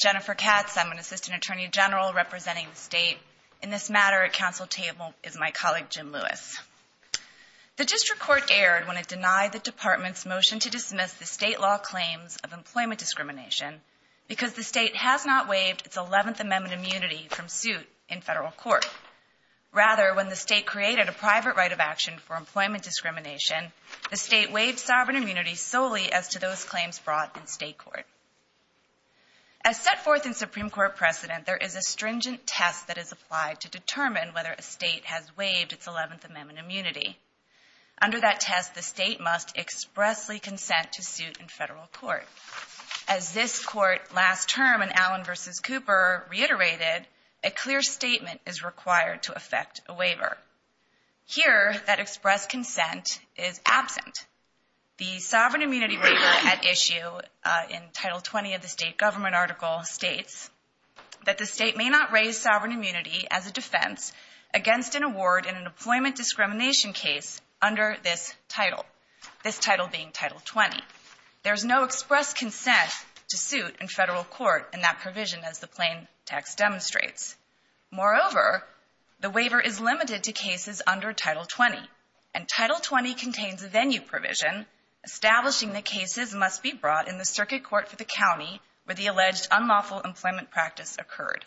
Jennifer Katz, Assistant Attorney General, Council Table The District Court erred when it denied the Department's motion to dismiss the state law claims of employment discrimination because the state has not waived its 11th Amendment immunity from suit in federal court. Rather, when the state created a private right of action for employment discrimination, the state waived sovereign immunity solely as to those claims brought in state court. As set forth in Supreme Court precedent, there is a stringent test that is applied to determine whether a state has waived its 11th Amendment immunity. Under that test, the state must expressly consent to suit in federal court. As this Court last term in Allen v. Cooper reiterated, a clear statement is required to effect a waiver. Here, that expressed consent is absent. The sovereign immunity waiver at sovereign immunity as a defense against an award in an employment discrimination case under Title 20. There is no expressed consent to suit in federal court in that provision as the plain text demonstrates. Moreover, the waiver is limited to cases under Title 20. Title 20 contains a venue provision establishing that cases must be brought in the Circuit Court for the county where the alleged unlawful employment practice occurred.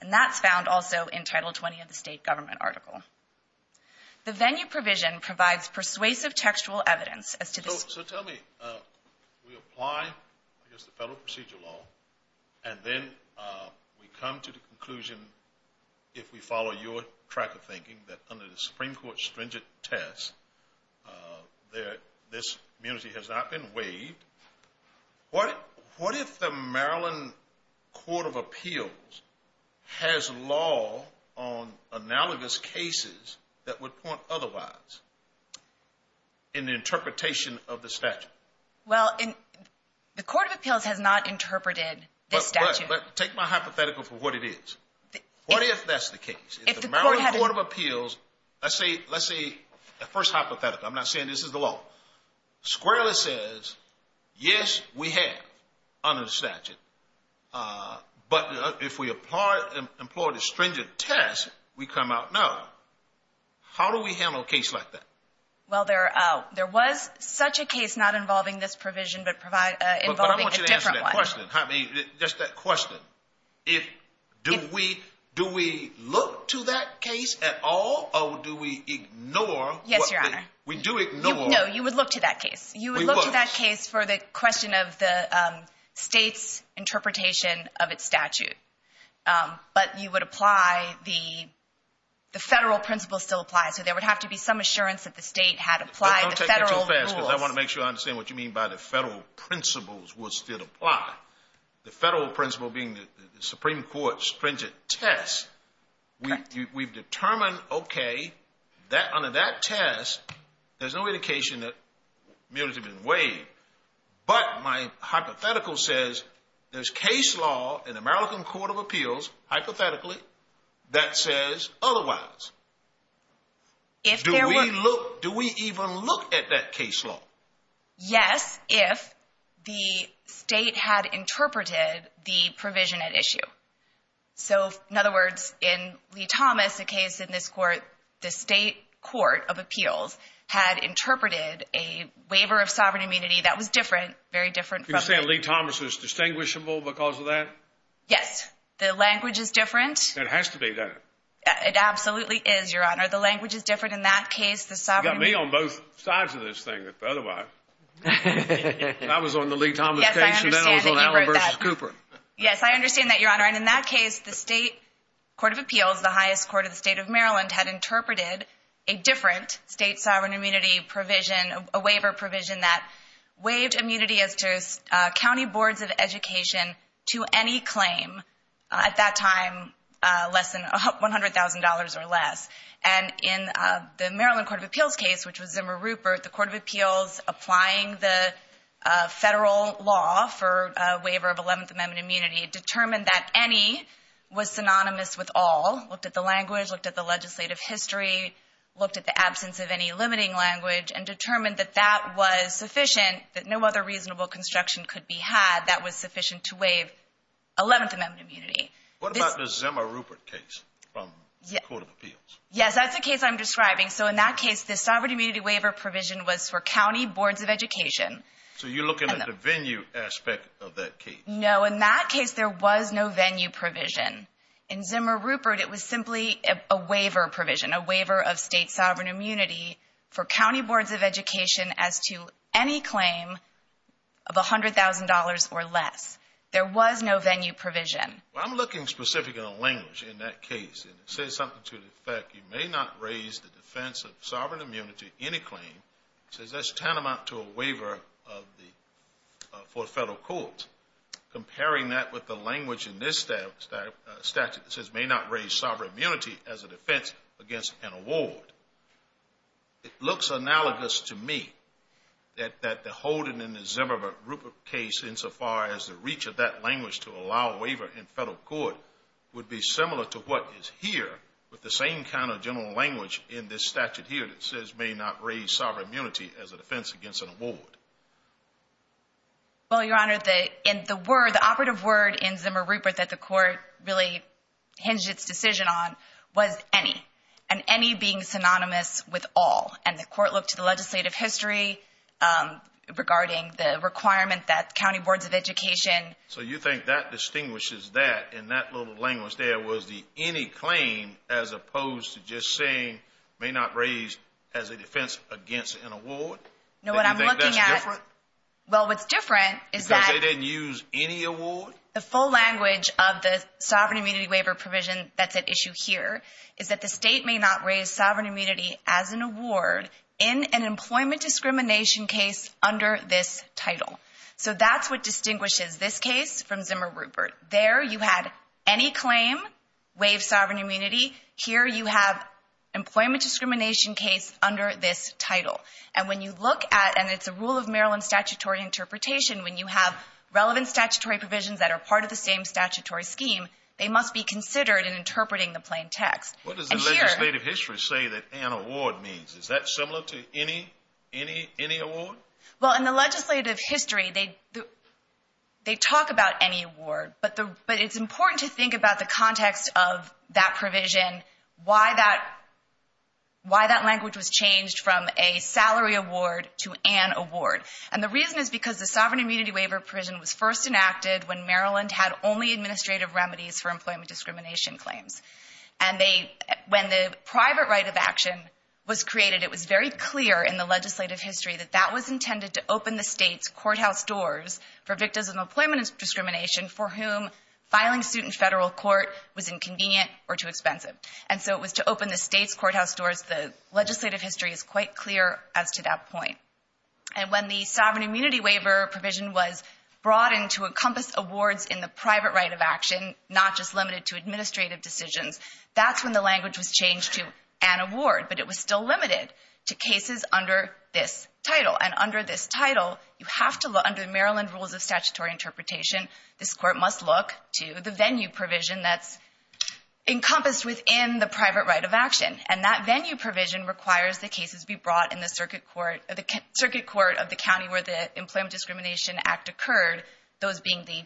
And that's found also in Title 20 of the state government article. The venue provision provides persuasive textual evidence as to the... So tell me, we apply, I guess, the federal procedure law, and then we come to the conclusion, if we follow your track of thinking, that under the Supreme Court stringent test, this immunity has not been waived, what if the Maryland Court of Appeals has law on analogous cases that would point otherwise in the interpretation of the statute? Well, the Court of Appeals has not interpreted the statute. But take my hypothetical for what it is. What if that's the case? If the Maryland Court of Appeals, let's say the first hypothetical, I'm not saying this is the law, squarely says, yes, we have under the statute. But if we employ the stringent test, we come out null. How do we handle a case like that? Well, there was such a case not involving this provision but involving a different one. Just that question. Do we look to that case at all, or do we ignore... Yes, Your Honor. We do ignore... No, you would look to that case. We would. You would look to that case for the question of the state's interpretation of its statute. But you would apply the federal principles still apply, so there would have to be some assurance that the state had applied the federal rules. Don't take that too fast, because I want to make sure I understand what you mean by the federal principle being the Supreme Court's stringent test. Correct. We've determined, okay, under that test, there's no indication that immunity has been waived. But my hypothetical says there's case law in the Maryland Court of Appeals, hypothetically, that says otherwise. If there were... Do we even look at that case law? Yes, if the state had interpreted the provision at issue. So, in other words, in Lee-Thomas, the case in this Court, the state court of appeals had interpreted a waiver of sovereign immunity that was different, very different from... You're saying Lee-Thomas was distinguishable because of that? Yes. The language is different. It has to be, doesn't it? It absolutely is, Your Honor. The language is different in that case. You've got me on both sides of this thing, otherwise. I was on the Lee-Thomas case, and then I was on Allen v. Cooper. Yes, I understand that, Your Honor. And in that case, the state court of appeals, the highest court of the state of Maryland, had interpreted a different state sovereign immunity provision, a waiver provision that waived immunity as to county boards of education to any claim, at that time, less than $100,000 or less. And in the Maryland court of appeals case, which was Zimmer Rupert, the court of appeals applying the federal law for a waiver of 11th Amendment immunity determined that any was synonymous with all. Looked at the language, looked at the legislative history, looked at the absence of any limiting language and determined that that was sufficient, that no other reasonable construction could be had that was sufficient to waive 11th Amendment immunity. What about the Zimmer Rupert case from the court of appeals? Yes, that's the case I'm describing. So in that case, the sovereign immunity waiver provision was for county boards of education. So you're looking at the venue aspect of that case? No, in that case, there was no venue provision. In Zimmer Rupert, it was simply a waiver provision, a waiver of state sovereign immunity for county boards of education as to any claim of $100,000 or less. There was no venue provision. Well, I'm looking specifically at the language in that case, and it says something to the effect, you may not raise the defense of sovereign immunity in a claim. It says that's tantamount to a waiver for a federal court. Comparing that with the language in this statute that says may not raise sovereign immunity as a defense against an award, it looks analogous to me that the holding in the Zimmer Rupert case insofar as the reach of that language to allow a waiver in federal court would be similar to what is here with the same kind of general language in this statute here that says may not raise sovereign immunity as a defense against an award. Well, Your Honor, the operative word in Zimmer Rupert that the court really hinged its decision on was any, and any being synonymous with all. And the court looked to the legislative history regarding the requirement that county boards of education. So you think that distinguishes that in that little language there was the any claim as opposed to just saying may not raise as a defense against an award? No, what I'm looking at. Do you think that's different? Well, what's different is that. Because they didn't use any award? The full language of the sovereign immunity waiver provision that's at issue here is that the state may not raise sovereign immunity as an award in an employment discrimination case under this title. So that's what distinguishes this case from Zimmer Rupert. There you had any claim, waive sovereign immunity. Here you have employment discrimination case under this title. And when you look at, and it's a rule of Maryland statutory interpretation, when you have relevant statutory provisions that are part of the same statutory scheme, they must be considered in interpreting the plain text. What does the legislative history say that an award means? Is that similar to any award? Well, in the legislative history, they talk about any award. But it's important to think about the context of that provision, why that language was changed from a salary award to an award. And the reason is because the sovereign immunity waiver provision was first enacted when Maryland had only administrative remedies for employment discrimination claims. And when the private right of action was created, it was very clear in the legislative history that that was intended to open the state's courthouse doors for victims of employment discrimination for whom filing suit in federal court was inconvenient or too expensive. And so it was to open the state's courthouse doors. The legislative history is quite clear as to that point. And when the sovereign immunity waiver provision was brought in to encompass awards in the private right of action, not just limited to administrative decisions, that's when the language was changed to an award. But it was still limited to cases under this title. And under this title, you have to look under the Maryland Rules of Statutory Interpretation, this court must look to the venue provision that's encompassed within the private right of action. And that venue provision requires the cases be brought in the circuit court of the county where the Employment Discrimination Act occurred, those being the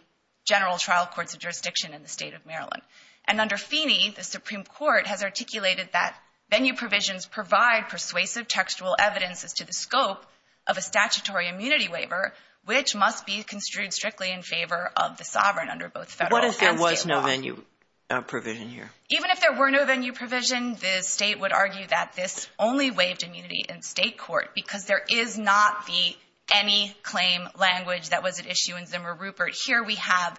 general trial courts of jurisdiction in the state of Maryland. And under Feeney, the Supreme Court has articulated that venue provisions provide persuasive textual evidence as to the scope of a statutory immunity waiver, which must be construed strictly in favor of the sovereign under both federal and state law. What if there was no venue provision here? Even if there were no venue provision, the state would argue that this only waived immunity in state court because there is not the any claim language that was at issue in Zimmer Rupert. Here we have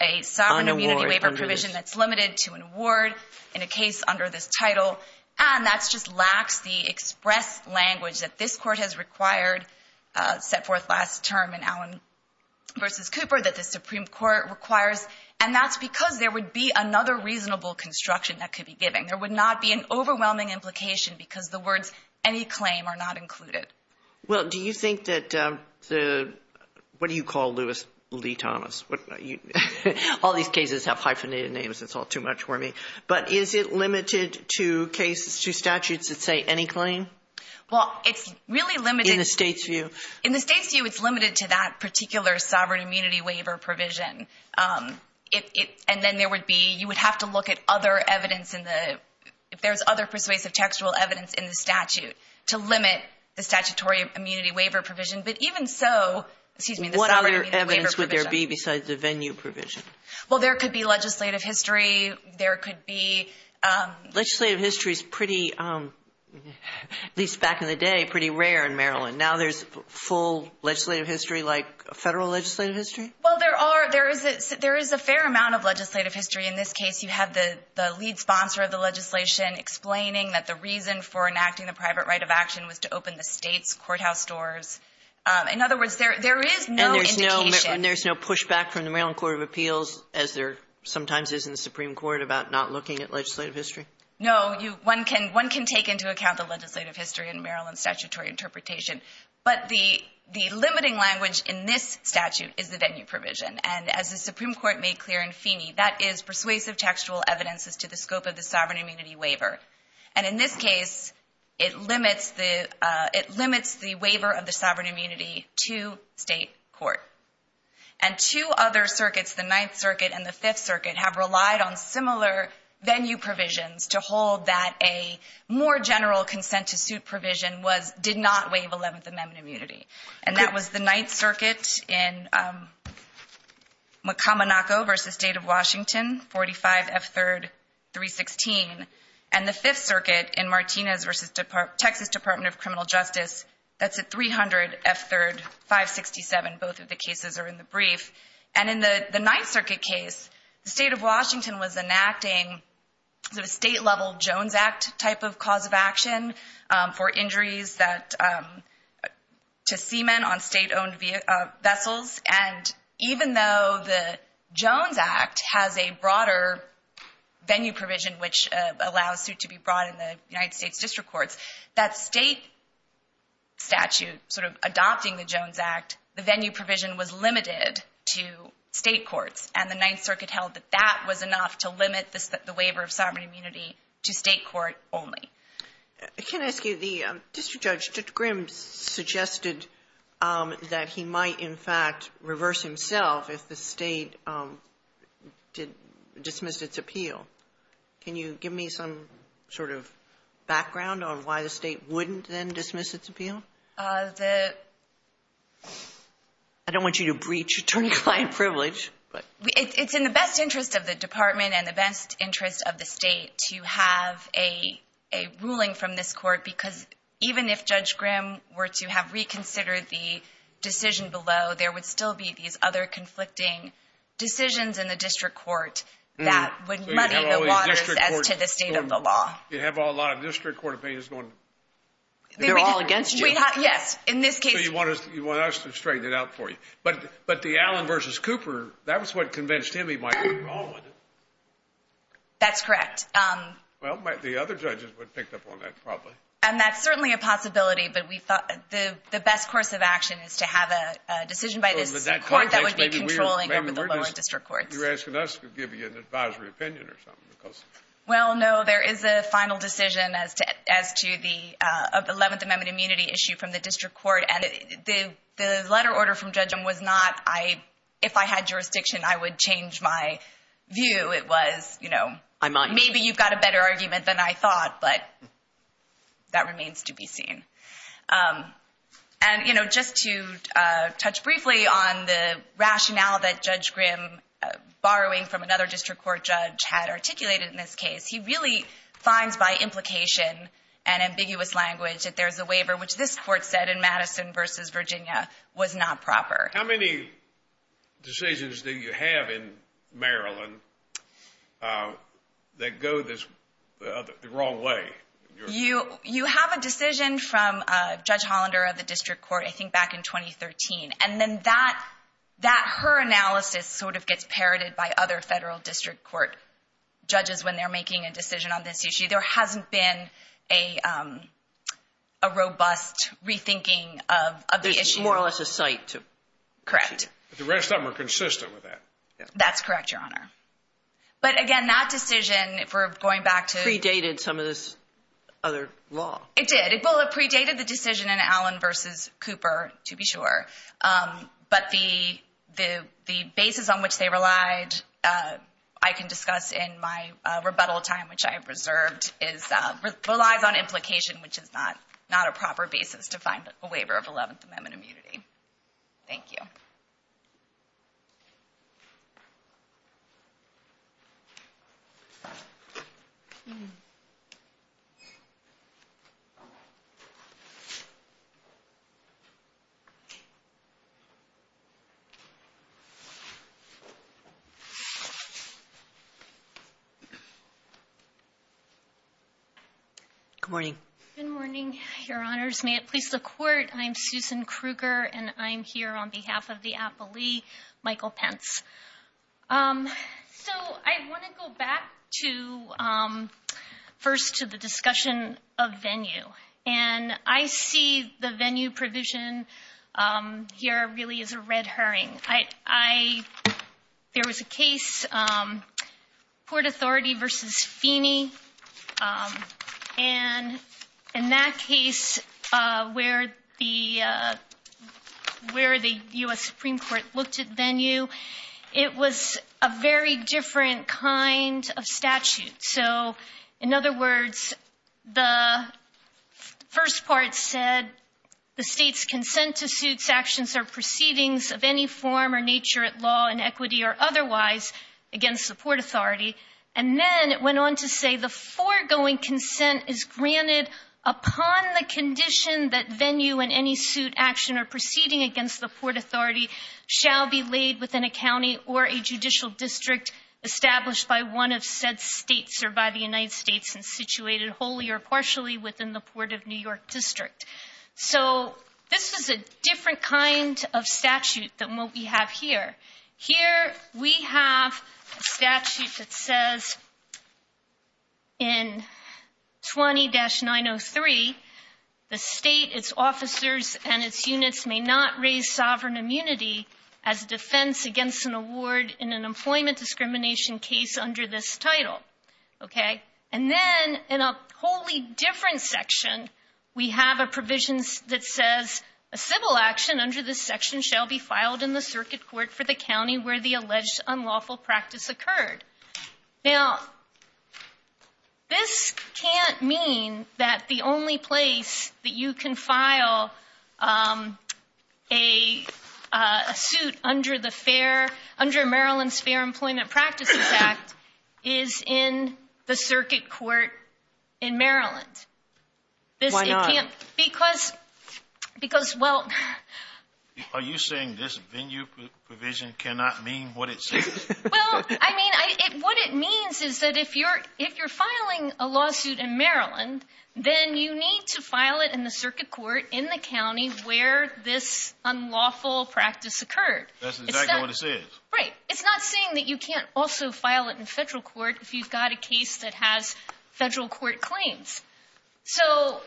a sovereign immunity waiver provision that's limited to an award in a case under this title. And that just lacks the express language that this court has required, set forth last term in Allen v. Cooper, that the Supreme Court requires. And that's because there would be another reasonable construction that could be given. There would not be an overwhelming implication because the words any claim are not included. Well, do you think that the – what do you call Lewis Lee Thomas? All these cases have hyphenated names. It's all too much for me. But is it limited to cases, to statutes that say any claim? Well, it's really limited. In the state's view. In the state's view, it's limited to that particular sovereign immunity waiver provision. And then there would be – you would have to look at other evidence in the – if there's other persuasive textual evidence in the statute to limit the statutory immunity waiver provision. But even so – excuse me, the sovereign immunity waiver provision. What other evidence would there be besides the venue provision? Well, there could be legislative history. There could be – Legislative history is pretty – at least back in the day, pretty rare in Maryland. Now there's full legislative history like federal legislative history? Well, there are – there is a fair amount of legislative history. In this case, you have the lead sponsor of the legislation explaining that the reason for enacting the private right of action was to open the state's courthouse doors. In other words, there is no indication. And there's no pushback from the Maryland Court of Appeals, as there sometimes is in the Supreme Court, about not looking at legislative history? No. One can take into account the legislative history in Maryland's statutory interpretation. But the limiting language in this statute is the venue provision. And as the Supreme Court made clear in Feeney, that is persuasive textual evidence as to the scope of the sovereign immunity waiver. And in this case, it limits the waiver of the sovereign immunity to state court. And two other circuits, the Ninth Circuit and the Fifth Circuit, have relied on similar venue provisions to hold that a more general consent-to-suit provision did not waive 11th Amendment immunity. And that was the Ninth Circuit in McCominoco v. State of Washington, 45 F. 3rd, 316. And the Fifth Circuit in Martinez v. Texas Department of Criminal Justice, that's at 300 F. 3rd, 567. Both of the cases are in the brief. And in the Ninth Circuit case, the State of Washington was enacting a state-level Jones Act type of cause of action for injuries to seamen on state-owned vessels. And even though the Jones Act has a broader venue provision, which allows suit to be brought in the United States District Courts, that State statute sort of adopting the Jones Act, the venue provision was limited to State courts. And the Ninth Circuit held that that was enough to limit the waiver of sovereign immunity to State court only. Sotomayor, can I ask you, the district judge, Judge Grimm, suggested that he might, in fact, reverse himself if the State dismissed its appeal. Can you give me some sort of background on why the State wouldn't then dismiss its appeal? I don't want you to breach attorney-client privilege. It's in the best interest of the Department and the best interest of the State to have a ruling from this court, because even if Judge Grimm were to have reconsidered the decision below, there would still be these other conflicting decisions in the district court that would muddy the waters as to the state of the law. You'd have a lot of district court opinions going. They're all against you. Yes, in this case. So you want us to straighten it out for you. But the Allen v. Cooper, that was what convinced him he might have a problem with it. That's correct. Well, the other judges would have picked up on that probably. And that's certainly a possibility. But we thought the best course of action is to have a decision by this court that would be controlling over the lower district courts. You're asking us to give you an advisory opinion or something. Well, no, there is a final decision as to the 11th Amendment immunity issue from the district court. And the letter order from Judge Grimm was not, if I had jurisdiction, I would change my view. It was, you know, maybe you've got a better argument than I thought. But that remains to be seen. And, you know, just to touch briefly on the rationale that Judge Grimm, borrowing from another district court judge, had articulated in this case, he really finds by implication and ambiguous language that there's a waiver, which this court said in Madison v. Virginia, was not proper. How many decisions do you have in Maryland that go the wrong way? You have a decision from Judge Hollander of the district court, I think, back in 2013. And then that, her analysis sort of gets parroted by other federal district court judges when they're making a decision on this issue. There hasn't been a robust rethinking of the issue. Correct. The rest of them are consistent with that. That's correct, Your Honor. But, again, that decision, if we're going back to- Predated some of this other law. It did. Well, it predated the decision in Allen v. Cooper, to be sure. But the basis on which they relied, I can discuss in my rebuttal time, which I have reserved, relies on implication, which is not a proper basis to find a waiver of 11th Amendment immunity. Thank you. Good morning. Good morning, Your Honors. May it please the Court, I'm Susan Kruger, and I'm here on behalf of the appellee, Michael Pence. So I want to go back to, first, to the discussion of venue. And I see the venue provision here really as a red herring. There was a case, Port Authority v. Feeney, and in that case where the U.S. Supreme Court looked at venue, it was a very different kind of statute. So, in other words, the first part said, The state's consent to suits, actions, or proceedings of any form or nature at law, in equity or otherwise, against the Port Authority. And then it went on to say, The foregoing consent is granted upon the condition that venue in any suit, action, or proceeding against the Port Authority shall be laid within a county or a judicial district established by one of said states or by the United States and situated wholly or partially within the Port of New York District. So this is a different kind of statute than what we have here. Here we have a statute that says, In 20-903, the state, its officers, and its units may not raise sovereign immunity as defense against an award in an employment discrimination case under this title. And then, in a wholly different section, we have a provision that says, A civil action under this section shall be filed in the circuit court for the county where the alleged unlawful practice occurred. Now, this can't mean that the only place that you can file a suit under Maryland's Fair Employment Practices Act is in the circuit court in Maryland. Why not? Because, well... Are you saying this venue provision cannot mean what it says? Well, I mean, what it means is that if you're filing a lawsuit in Maryland, then you need to file it in the circuit court in the county where this unlawful practice occurred. That's exactly what it says. Right. It's not saying that you can't also file it in federal court if you've got a case that has federal court claims. So...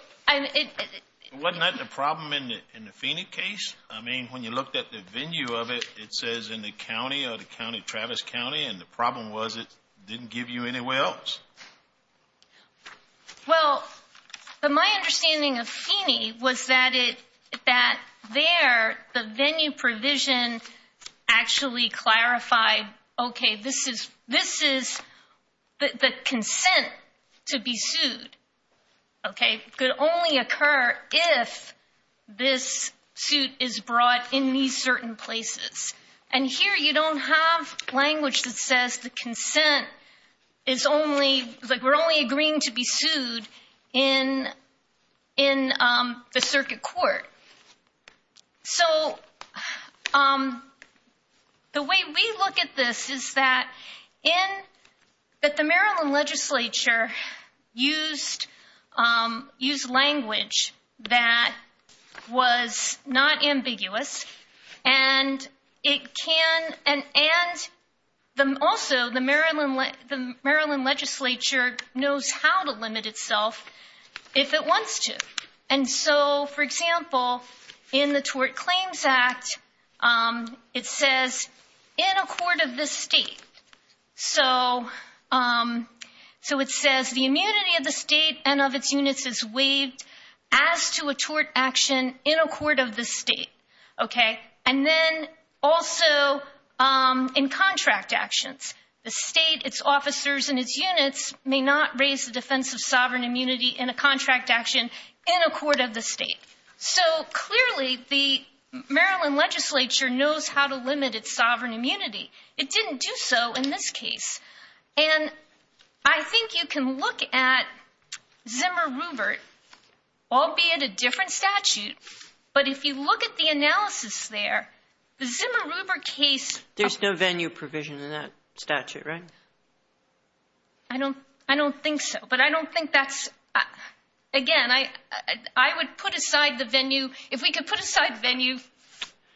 Wasn't that the problem in the Phoenix case? I mean, when you looked at the venue of it, it says in the county, Travis County, and the problem was it didn't give you anywhere else. Well, my understanding of Phoenix was that there, the venue provision actually clarified, okay, this is the consent to be sued, okay, could only occur if this suit is brought in these certain places. And here you don't have language that says the consent is only, like we're only agreeing to be sued in the circuit court. So the way we look at this is that the Maryland legislature used language that was not ambiguous, and also the Maryland legislature knows how to limit itself if it wants to. And so, for example, in the Tort Claims Act, it says in accord of the state. So it says the immunity of the state and of its units is waived as to a tort action in accord of the state. Okay. And then also in contract actions. The state, its officers, and its units may not raise the defense of sovereign immunity in a contract action in accord of the state. So, clearly, the Maryland legislature knows how to limit its sovereign immunity. It didn't do so in this case. And I think you can look at Zimmer-Rubert, albeit a different statute, but if you look at the analysis there, the Zimmer-Rubert case… There's no venue provision in that statute, right? I don't think so. But I don't think that's… Again, I would put aside the venue. If we could put aside venue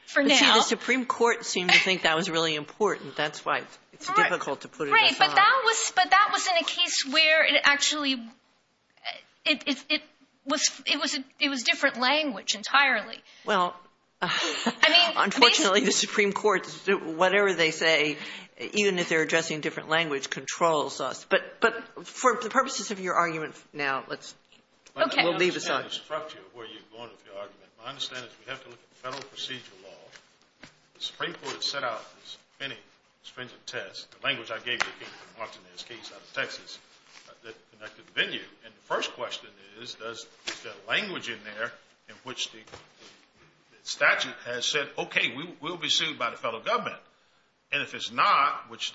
for now… The Supreme Court seemed to think that was really important. That's why it's difficult to put it aside. Right. But that was in a case where it actually was different language entirely. Well, unfortunately, the Supreme Court, whatever they say, even if they're addressing different language, controls us. But for the purposes of your argument now, let's… Okay. We'll leave this on. I don't understand the structure of where you're going with your argument. My understanding is we have to look at the federal procedural law. The Supreme Court has set out as many stringent tests. The language I gave you came from Martinez's case out of Texas, that connected venue. And the first question is, is there language in there in which the statute has said, okay, we'll be sued by the fellow government? And if it's not, which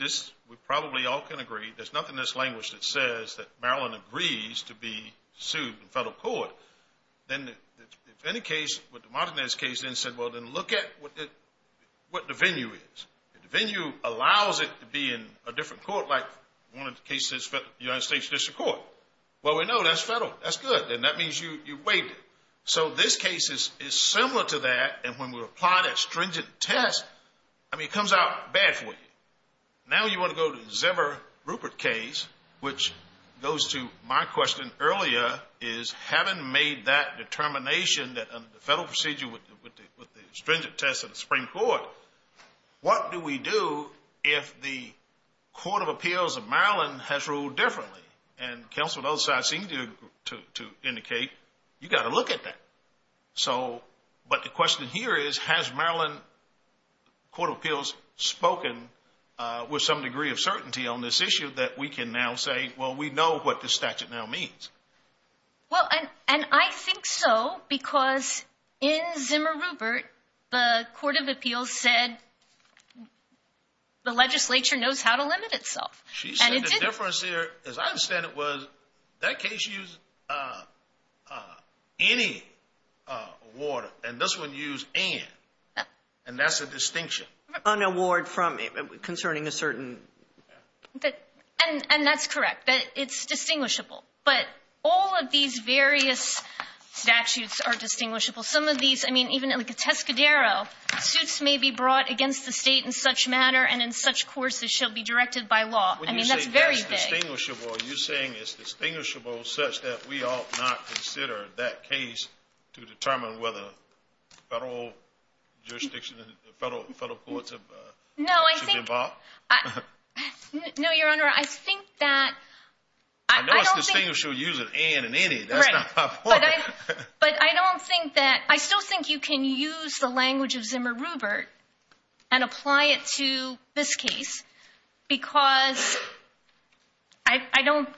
we probably all can agree, there's nothing in this language that says that Maryland agrees to be sued in federal court, then if any case with the Martinez case then said, well, then look at what the venue is. If the venue allows it to be in a different court like one of the cases in the United States District Court, well, we know that's federal. That's good. And that means you waived it. So this case is similar to that. And when we apply that stringent test, I mean, it comes out bad for you. Now you want to go to the Zimmer-Rupert case, which goes to my question earlier, is having made that determination that under the federal procedure with the stringent test of the Supreme Court, what do we do if the Court of Appeals of Maryland has ruled differently? And counsel on the other side seemed to indicate you've got to look at that. But the question here is, has Maryland Court of Appeals spoken with some degree of certainty on this issue that we can now say, well, we know what the statute now means? Well, and I think so because in Zimmer-Rupert, the Court of Appeals said the legislature knows how to limit itself. She said the difference there, as I understand it, was that case used any award, and this one used and. And that's a distinction. An award concerning a certain. And that's correct. It's distinguishable. But all of these various statutes are distinguishable. Some of these, I mean, even like a Tescadero, suits may be brought against the state in such manner and in such courses shall be directed by law. I mean, that's very big. When you say it's distinguishable, are you saying it's distinguishable such that we ought not consider that case to determine whether federal jurisdiction, the federal courts should be involved? No, I think. No, Your Honor, I think that. I know it's distinguishable using and and any. That's not my point. But I don't think that I still think you can use the language of Zimmer-Rupert and apply it to this case because I don't.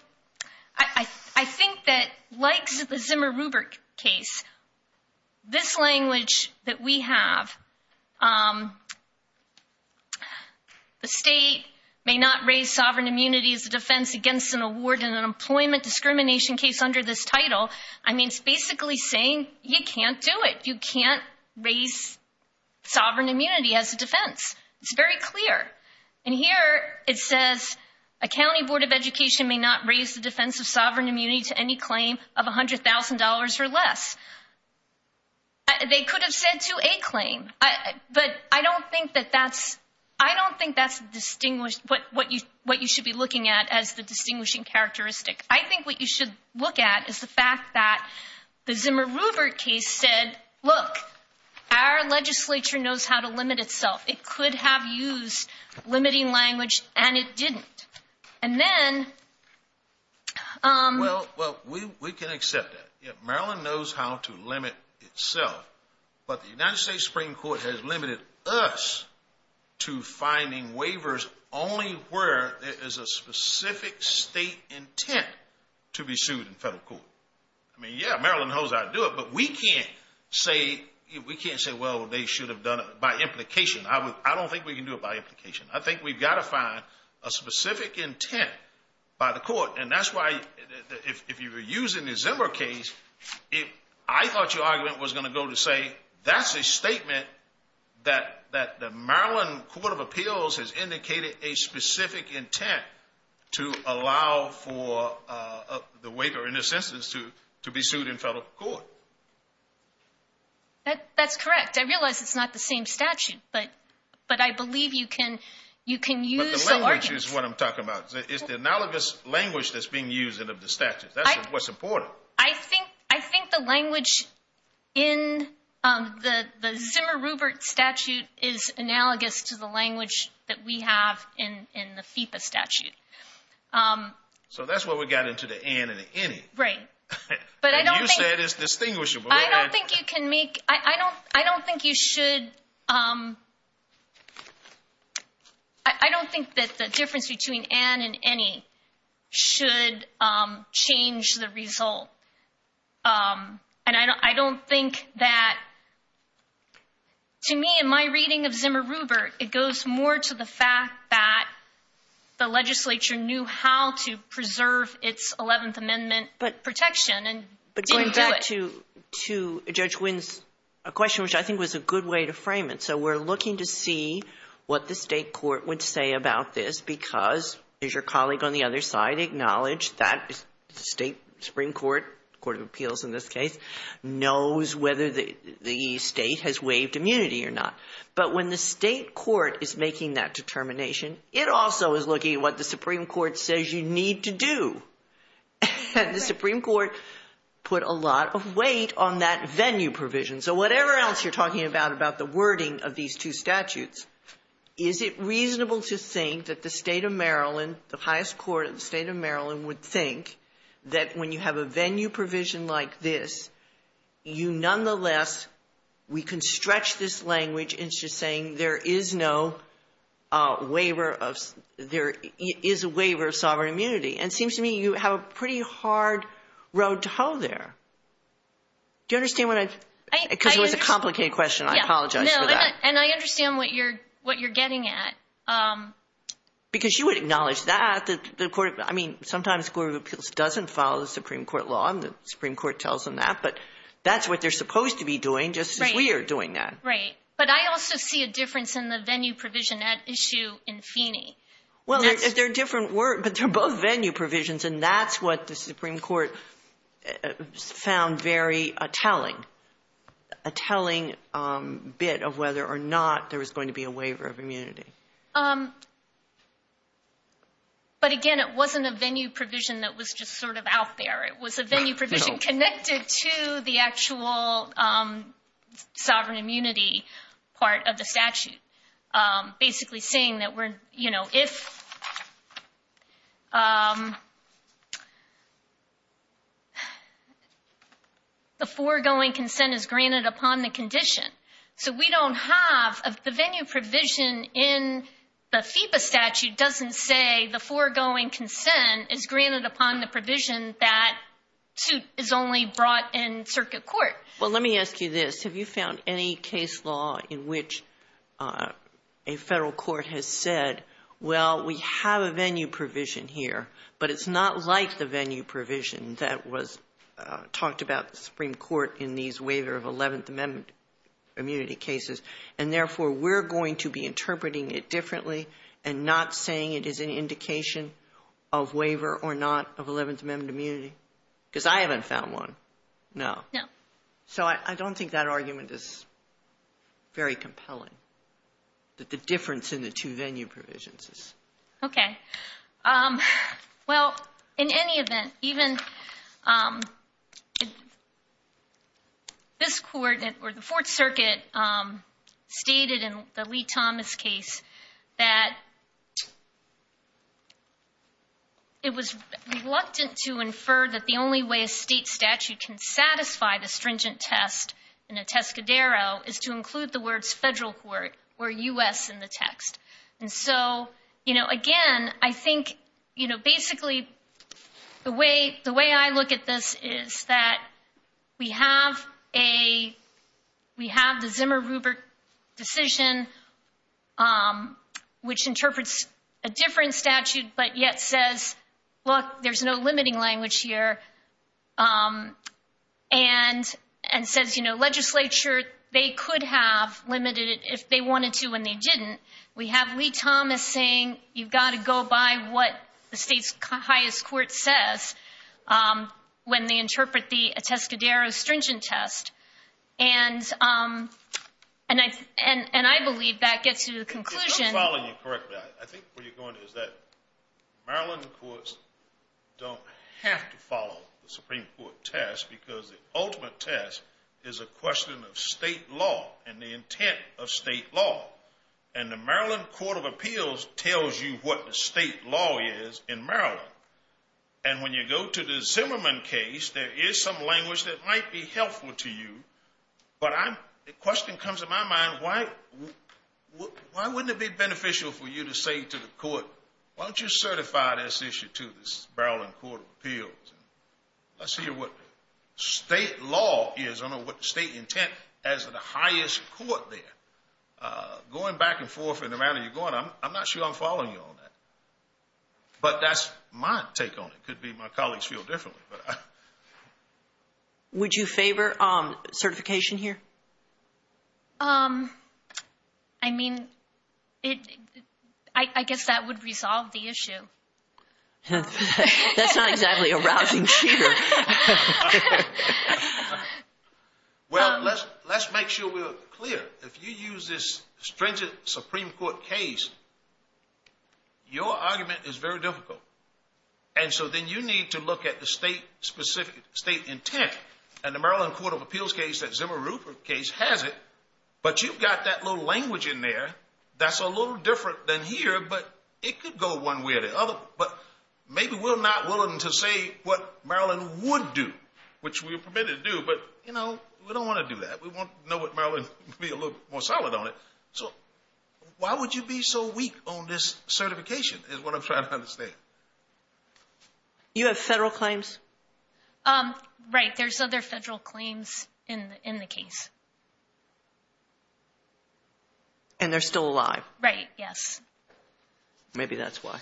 I think that likes the Zimmer-Rupert case. This language that we have. The state may not raise sovereign immunity as a defense against an award in an employment discrimination case under this title. I mean, it's basically saying you can't do it. You can't raise sovereign immunity as a defense. It's very clear. And here it says a county board of education may not raise the defense of sovereign immunity to any claim of $100,000 or less. They could have said to a claim. But I don't think that that's I don't think that's distinguished what you what you should be looking at as the distinguishing characteristic. I think what you should look at is the fact that the Zimmer-Rupert case said, look, our legislature knows how to limit itself. It could have used limiting language and it didn't. And then. Well, we can accept that. Maryland knows how to limit itself. But the United States Supreme Court has limited us to finding waivers only where there is a specific state intent to be sued in federal court. I mean, yeah, Maryland knows how to do it. But we can't say we can't say, well, they should have done it by implication. I don't think we can do it by implication. I think we've got to find a specific intent by the court. And that's why if you were using the Zimmer case, if I thought your argument was going to go to say that's a statement that that the Maryland Court of Appeals has indicated a specific intent to allow for the waiver in this instance to to be sued in federal court. That that's correct. I realize it's not the same statute, but but I believe you can you can use the language is what I'm talking about. It's the analogous language that's being used in of the statute. That's what's important. I think I think the language in the Zimmer Rupert statute is analogous to the language that we have in the FIPA statute. So that's what we got into the end. Right. But you said it's distinguishable. I don't think you can make. I don't I don't think you should. I don't think that the difference between Anne and any should change the result. And I don't think that. To me, in my reading of Zimmer Rupert, it goes more to the fact that the legislature knew how to preserve its 11th Amendment protection. But going back to to Judge Wynn's question, which I think was a good way to frame it. So we're looking to see what the state court would say about this, because there's your colleague on the other side. Acknowledge that state Supreme Court Court of Appeals in this case knows whether the state has waived immunity or not. But when the state court is making that determination, it also is looking at what the Supreme Court says you need to do. The Supreme Court put a lot of weight on that venue provision. So whatever else you're talking about, about the wording of these two statutes, is it reasonable to think that the state of Maryland, the highest court of the state of Maryland, would think that when you have a venue provision like this, you nonetheless we can stretch this language into saying there is no waiver of there is a waiver of sovereign immunity. And it seems to me you have a pretty hard road to hoe there. Do you understand what I, because it was a complicated question. I apologize for that. And I understand what you're what you're getting at. Because you would acknowledge that the court, I mean, sometimes Court of Appeals doesn't follow the Supreme Court law. The Supreme Court tells them that, but that's what they're supposed to be doing just as we are doing that. Right. But I also see a difference in the venue provision at issue in Feeney. Well, they're different words, but they're both venue provisions. And that's what the Supreme Court found very telling. A telling bit of whether or not there was going to be a waiver of immunity. But again, it wasn't a venue provision that was just sort of out there. It was a venue provision connected to the actual sovereign immunity part of the statute. Basically saying that we're, you know, if the foregoing consent is granted upon the condition. So we don't have the venue provision in the FIPA statute doesn't say the foregoing consent is granted upon the provision that suit is only brought in circuit court. Well, let me ask you this. Have you found any case law in which a federal court has said, well, we have a venue provision here. But it's not like the venue provision that was talked about the Supreme Court in these waiver of 11th Amendment immunity cases. And therefore, we're going to be interpreting it differently and not saying it is an indication of waiver or not of 11th Amendment immunity. Because I haven't found one. No. So I don't think that argument is very compelling. The difference in the two venue provisions. OK. Well, in any event, even this court or the Fourth Circuit stated in the Lee Thomas case that. It was reluctant to infer that the only way a state statute can satisfy the stringent test in a Tescadero is to include the words federal court or U.S. And so, you know, again, I think, you know, basically the way the way I look at this is that we have a we have the Zimmer Rupert decision. Which interprets a different statute, but yet says, look, there's no limiting language here. And and says, you know, legislature, they could have limited it if they wanted to. And they didn't. We have Lee Thomas saying you've got to go by what the state's highest court says when they interpret the Tescadero stringent test. And and I and I believe that gets to the conclusion. I think what you're going to is that Maryland courts don't have to follow the Supreme Court test because the ultimate test is a question of state law and the intent of state law. And the Maryland Court of Appeals tells you what the state law is in Maryland. And when you go to the Zimmerman case, there is some language that might be helpful to you. But I'm a question comes to my mind. Why? Why wouldn't it be beneficial for you to say to the court? Why don't you certify this issue to this Maryland Court of Appeals? Let's see what state law is on what state intent as the highest court there going back and forth and around. I'm not sure I'm following you on that. But that's my take on it could be my colleagues feel differently. But would you favor certification here? I mean, I guess that would resolve the issue. That's not exactly a rousing. Well, let's let's make sure we're clear. If you use this stringent Supreme Court case. Your argument is very difficult. And so then you need to look at the state specific state intent and the Maryland Court of Appeals case that Zimmerman case has it. But you've got that little language in there. That's a little different than here. But it could go one way or the other. But maybe we're not willing to say what Maryland would do, which we are permitted to do. But, you know, we don't want to do that. We want to know what Maryland would be a little more solid on it. So why would you be so weak on this certification is what I'm trying to understand. You have federal claims. Right. There's other federal claims in the case. And they're still alive. Right. Yes. Maybe that's why.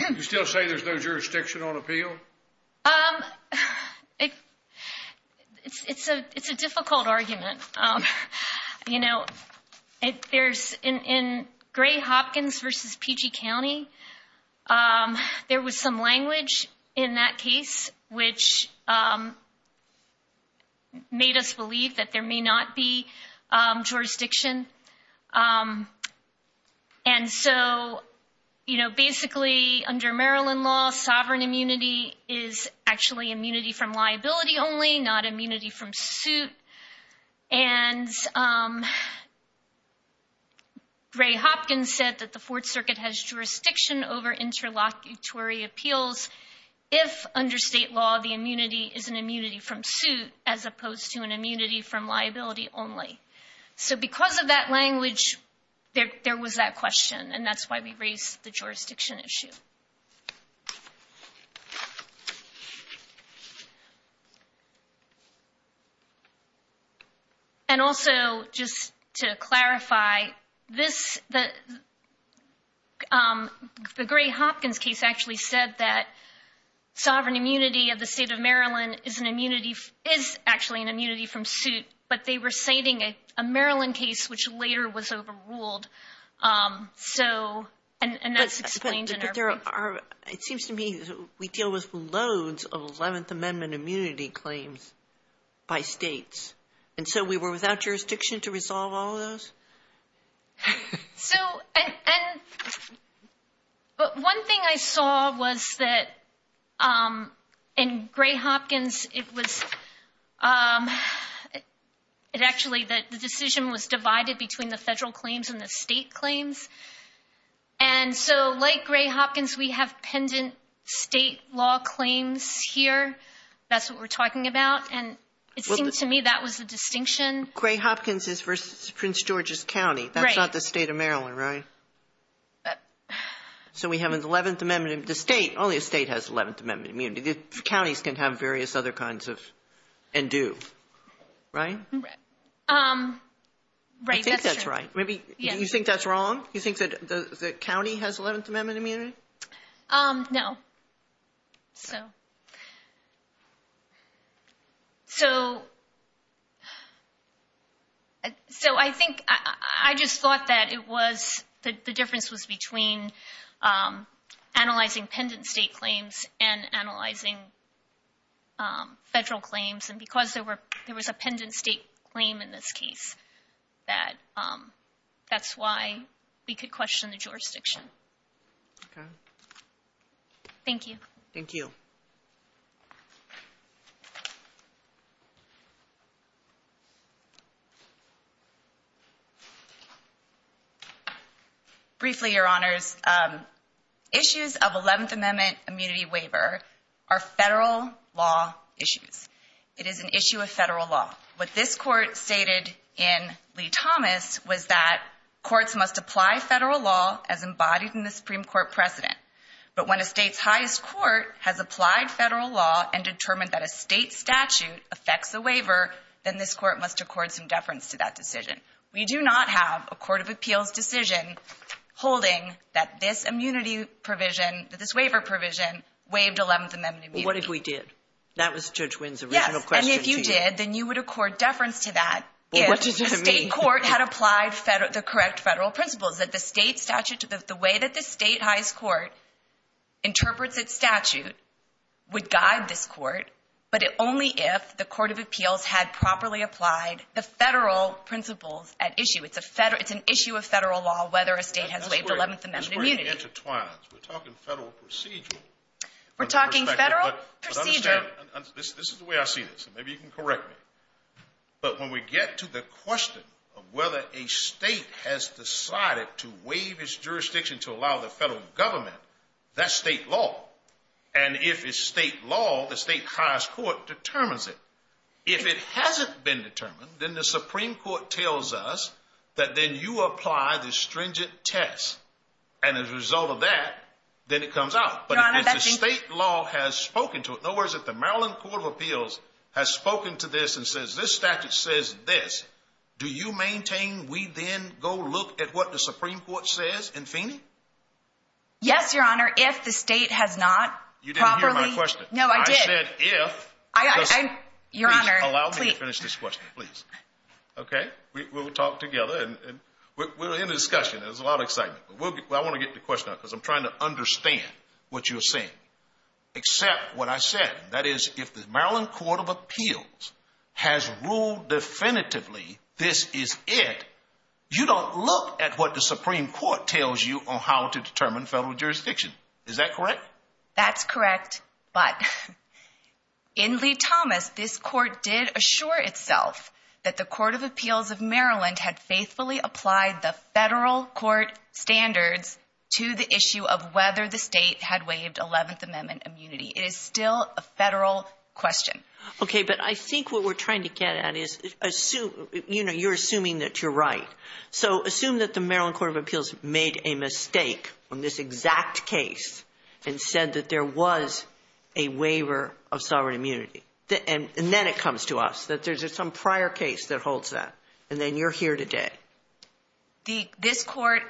You still say there's no jurisdiction on appeal. It's a it's a difficult argument. You know, if there's in Gray Hopkins versus PG County, there was some language in that case which made us believe that there may not be jurisdiction. And so, you know, basically, under Maryland law, sovereign immunity is actually immunity from liability only not immunity from suit. And Gray Hopkins said that the Fourth Circuit has jurisdiction over interlocutory appeals. If under state law, the immunity is an immunity from suit as opposed to an immunity from liability only. So because of that language, there was that question. And that's why we raised the jurisdiction issue. And also, just to clarify this, the. The Gray Hopkins case actually said that sovereign immunity of the state of Maryland is an immunity, is actually an immunity from suit, but they were citing a Maryland case which later was overruled. So and that's explained. There are. It seems to me we deal with loads of 11th Amendment immunity claims by states. And so we were without jurisdiction to resolve all of those. So. But one thing I saw was that in Gray Hopkins, it was. It actually that the decision was divided between the federal claims and the state claims. And so like Gray Hopkins, we have pendant state law claims here. That's what we're talking about. And it seems to me that was the distinction. Gray Hopkins is versus Prince George's County. That's not the state of Maryland, right? So we have an 11th Amendment in the state. Only a state has 11th Amendment immunity. Counties can have various other kinds of and do. Right. Right. I think that's right. Maybe you think that's wrong. You think that the county has 11th Amendment immunity? No. So. So. So I think I just thought that it was the difference was between analyzing pendant state claims and analyzing federal claims. And because there were there was a pendant state claim in this case that that's why we could question the jurisdiction. Thank you. Thank you. Briefly, your honors. Issues of 11th Amendment immunity waiver are federal law issues. It is an issue of federal law. What this court stated in Lee Thomas was that courts must apply federal law as embodied in the Supreme Court precedent. But when a state's highest court has applied federal law and determined that a state statute affects the waiver, then this court must accord some deference to that decision. We do not have a court of appeals decision holding that this immunity provision, that this waiver provision waived 11th Amendment. What if we did? That was Judge Wynn's original question. And if you did, then you would accord deference to that. State court had applied the correct federal principles that the state statute, the way that the state highest court interprets its statute would guide this court. But only if the court of appeals had properly applied the federal principles at issue. It's a it's an issue of federal law, whether a state has waived 11th Amendment immunity. We're talking federal procedural. We're talking federal procedural. This is the way I see this. Maybe you can correct me. But when we get to the question of whether a state has decided to waive its jurisdiction to allow the federal government, that's state law. And if it's state law, the state highest court determines it. If it hasn't been determined, then the Supreme Court tells us that then you apply the stringent test. And as a result of that, then it comes out. But the state law has spoken to it. No words at the Maryland Court of Appeals has spoken to this and says this statute says this. Do you maintain we then go look at what the Supreme Court says in Phoenix? Yes, Your Honor. If the state has not. You didn't hear my question. No, I did. I'm your honor. Allow me to finish this question, please. OK, we will talk together and we're in discussion. There's a lot of excitement. Well, I want to get the question because I'm trying to understand what you're saying, except what I said. That is, if the Maryland Court of Appeals has ruled definitively, this is it. You don't look at what the Supreme Court tells you on how to determine federal jurisdiction. Is that correct? That's correct. But in Lee Thomas, this court did assure itself that the Court of Appeals of Maryland had faithfully applied the federal court standards to the issue of whether the state had waived 11th Amendment immunity. It is still a federal question. OK, but I think what we're trying to get at is assume, you know, you're assuming that you're right. So assume that the Maryland Court of Appeals made a mistake on this exact case and said that there was a waiver of sovereign immunity. And then it comes to us that there's some prior case that holds that. And then you're here today. This court,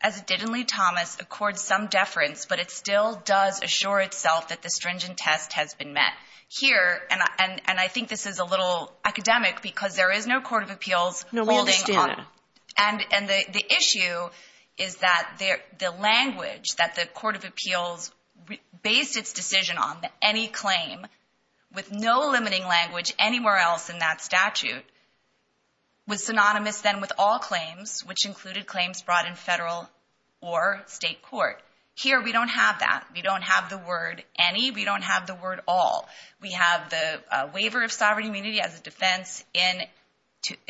as it did in Lee Thomas, accords some deference, but it still does assure itself that the stringent test has been met here. And I think this is a little academic because there is no court of appeals. No, we understand. And the issue is that the language that the Court of Appeals based its decision on any claim with no limiting language anywhere else in that statute. Was synonymous then with all claims, which included claims brought in federal or state court. Here, we don't have that. We don't have the word any. We don't have the word all. We have the waiver of sovereign immunity as a defense in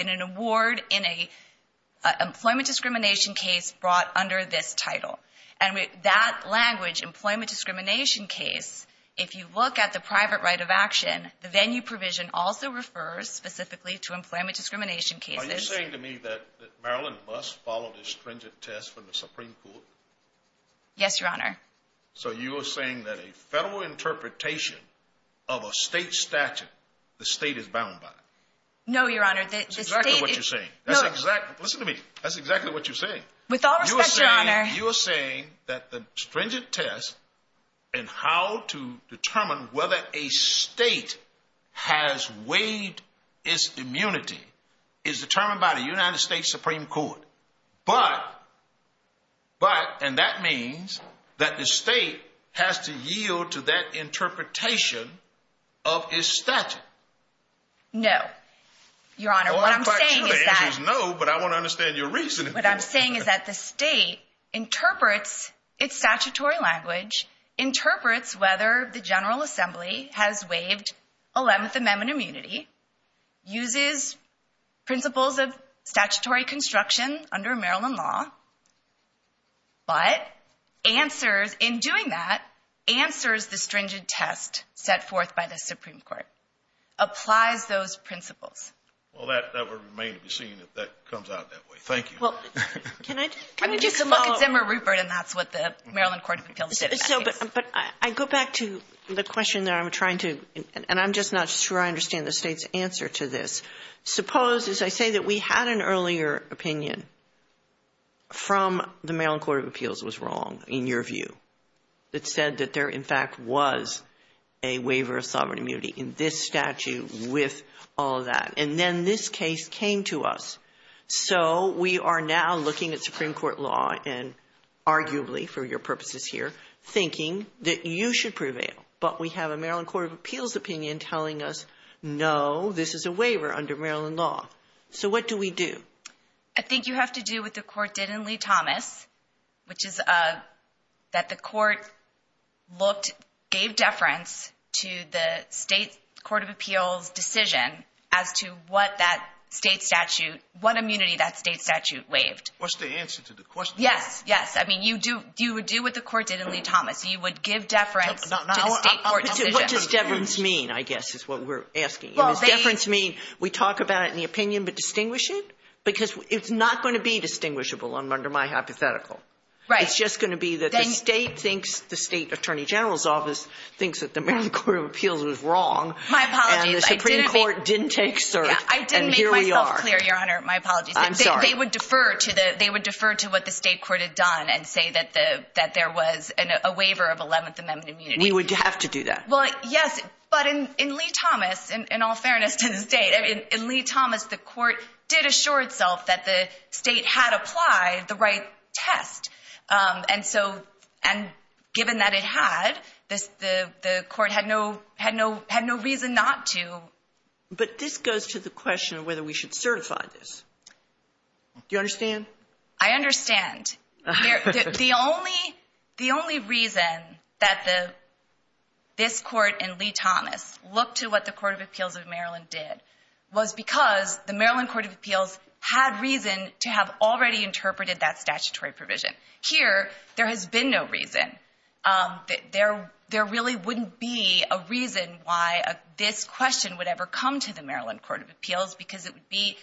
an award in a employment discrimination case brought under this title. And that language, employment discrimination case, if you look at the private right of action, the venue provision also refers specifically to employment discrimination cases. Are you saying to me that Maryland must follow the stringent test from the Supreme Court? Yes, Your Honor. So you are saying that a federal interpretation of a state statute, the state is bound by? No, Your Honor. That's exactly what you're saying. That's exactly. Listen to me. That's exactly what you're saying. With all respect, Your Honor. You are saying that the stringent test and how to determine whether a state has waived its immunity is determined by the United States Supreme Court. But but and that means that the state has to yield to that interpretation of his statute. No, Your Honor. No, but I want to understand your reason. What I'm saying is that the state interprets its statutory language, interprets whether the General Assembly has waived 11th Amendment immunity, uses principles of statutory construction under Maryland law, but answers in doing that, answers the stringent test set forth by the Supreme Court, applies those principles. Well, that would remain to be seen if that comes out that way. Thank you. Well, can I just look at Zimmer Rupert and that's what the Maryland Court of Appeals said. But I go back to the question that I'm trying to and I'm just not sure I understand the state's answer to this. Suppose, as I say, that we had an earlier opinion from the Maryland Court of Appeals was wrong, in your view. It said that there, in fact, was a waiver of sovereign immunity in this statute with all of that. And then this case came to us. So we are now looking at Supreme Court law and arguably for your purposes here, thinking that you should prevail. But we have a Maryland Court of Appeals opinion telling us, no, this is a waiver under Maryland law. So what do we do? I think you have to do what the court did in Lee-Thomas, which is that the court looked, gave deference to the state court of appeals decision as to what that state statute, what immunity that state statute waived. What's the answer to the question? Yes. Yes. I mean, you would do what the court did in Lee-Thomas. You would give deference to the state court decision. What does deference mean, I guess, is what we're asking. Does deference mean we talk about it in the opinion but distinguish it? Because it's not going to be distinguishable under my hypothetical. Right. It's just going to be that the state thinks, the state attorney general's office thinks that the Maryland Court of Appeals was wrong. My apologies. And the Supreme Court didn't take cert, and here we are. I didn't make myself clear, Your Honor. My apologies. I'm sorry. They would defer to what the state court had done and say that there was a waiver of 11th Amendment immunity. We would have to do that. Well, yes, but in Lee-Thomas, in all fairness to the state, I mean, in Lee-Thomas, the court did assure itself that the state had applied the right test. And so, and given that it had, the court had no reason not to. But this goes to the question of whether we should certify this. Do you understand? I understand. The only reason that this court and Lee-Thomas looked to what the Court of Appeals of Maryland did was because the Maryland Court of Appeals had reason to have already interpreted that statutory provision. Here, there has been no reason. There really wouldn't be a reason why this question would ever come to the Maryland Court of Appeals because it would be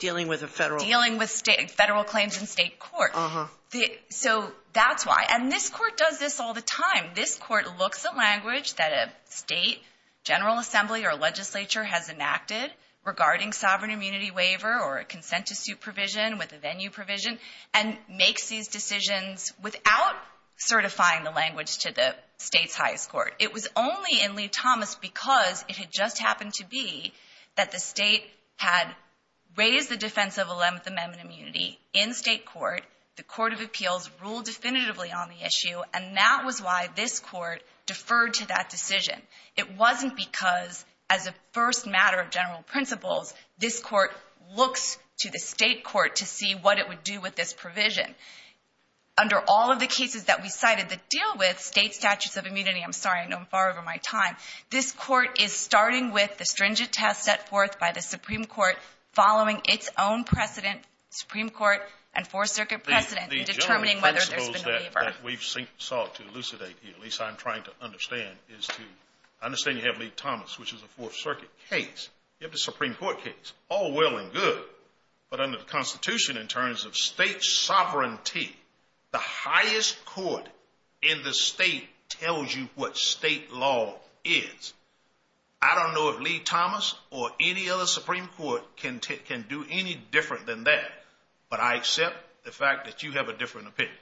Dealing with a federal Dealing with federal claims in state court. So that's why. And this court does this all the time. This court looks at language that a state general assembly or legislature has enacted regarding sovereign immunity waiver or a consent to suit provision with a venue provision and makes these decisions without certifying the language to the state's highest court. It was only in Lee-Thomas because it had just happened to be that the state had raised the defense of 11th Amendment immunity in state court. The Court of Appeals ruled definitively on the issue. And that was why this court deferred to that decision. It wasn't because, as a first matter of general principles, this court looks to the state court to see what it would do with this provision. Under all of the cases that we cited that deal with state statutes of immunity I'm sorry, I know I'm far over my time. This court is starting with the stringent test set forth by the Supreme Court following its own precedent, Supreme Court and Fourth Circuit precedent, in determining whether there's been a waiver. The general principle that we've sought to elucidate here, at least I'm trying to understand, is to understand you have Lee-Thomas, which is a Fourth Circuit case. You have the Supreme Court case. All well and good. But under the Constitution, in terms of state sovereignty, the highest court in the state tells you what state law is. I don't know if Lee-Thomas or any other Supreme Court can do any different than that. But I accept the fact that you have a different opinion.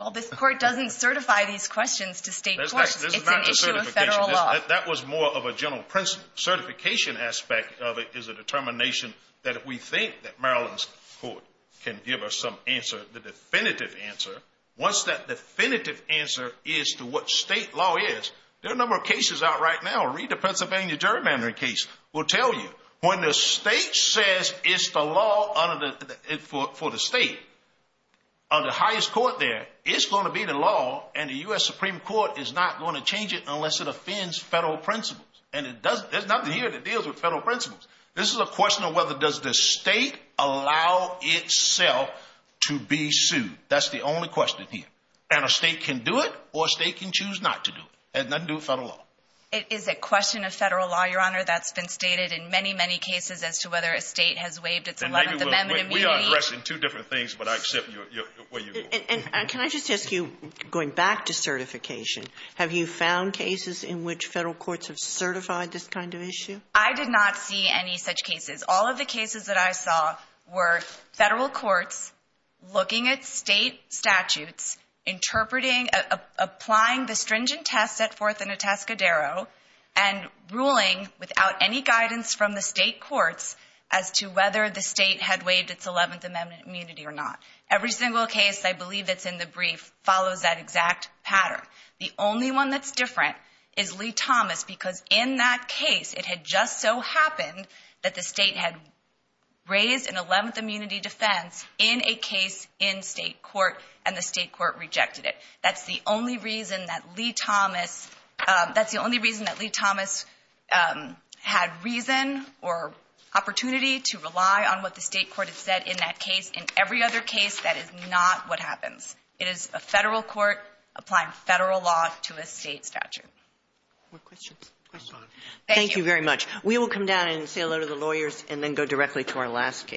Well, this court doesn't certify these questions to state courts. It's an issue of federal law. That was more of a general principle. The certification aspect of it is a determination that if we think that Maryland's court can give us some answer, the definitive answer, once that definitive answer is to what state law is, there are a number of cases out right now. Read the Pennsylvania gerrymandering case. It will tell you. When the state says it's the law for the state, under the highest court there, it's going to be the law, and the U.S. Supreme Court is not going to change it unless it offends federal principles. And there's nothing here that deals with federal principles. This is a question of whether does the state allow itself to be sued. That's the only question here. And a state can do it or a state can choose not to do it. It has nothing to do with federal law. It is a question of federal law, Your Honor. That's been stated in many, many cases as to whether a state has waived its 11th Amendment. We are addressing two different things, but I accept where you're going. And can I just ask you, going back to certification, have you found cases in which federal courts have certified this kind of issue? I did not see any such cases. All of the cases that I saw were federal courts looking at state statutes, interpreting, applying the stringent test set forth in Atascadero, and ruling without any guidance from the state courts as to whether the state had waived its 11th Amendment immunity or not. Every single case I believe that's in the brief follows that exact pattern. The only one that's different is Lee Thomas, because in that case it had just so happened that the state had raised an 11th immunity defense in a case in state court and the state court rejected it. That's the only reason that Lee Thomas had reason or opportunity to rely on what the state court had said in that case. In every other case, that is not what happens. It is a federal court applying federal law to a state statute. More questions? Thank you very much. We will come down and say hello to the lawyers and then go directly to our last case.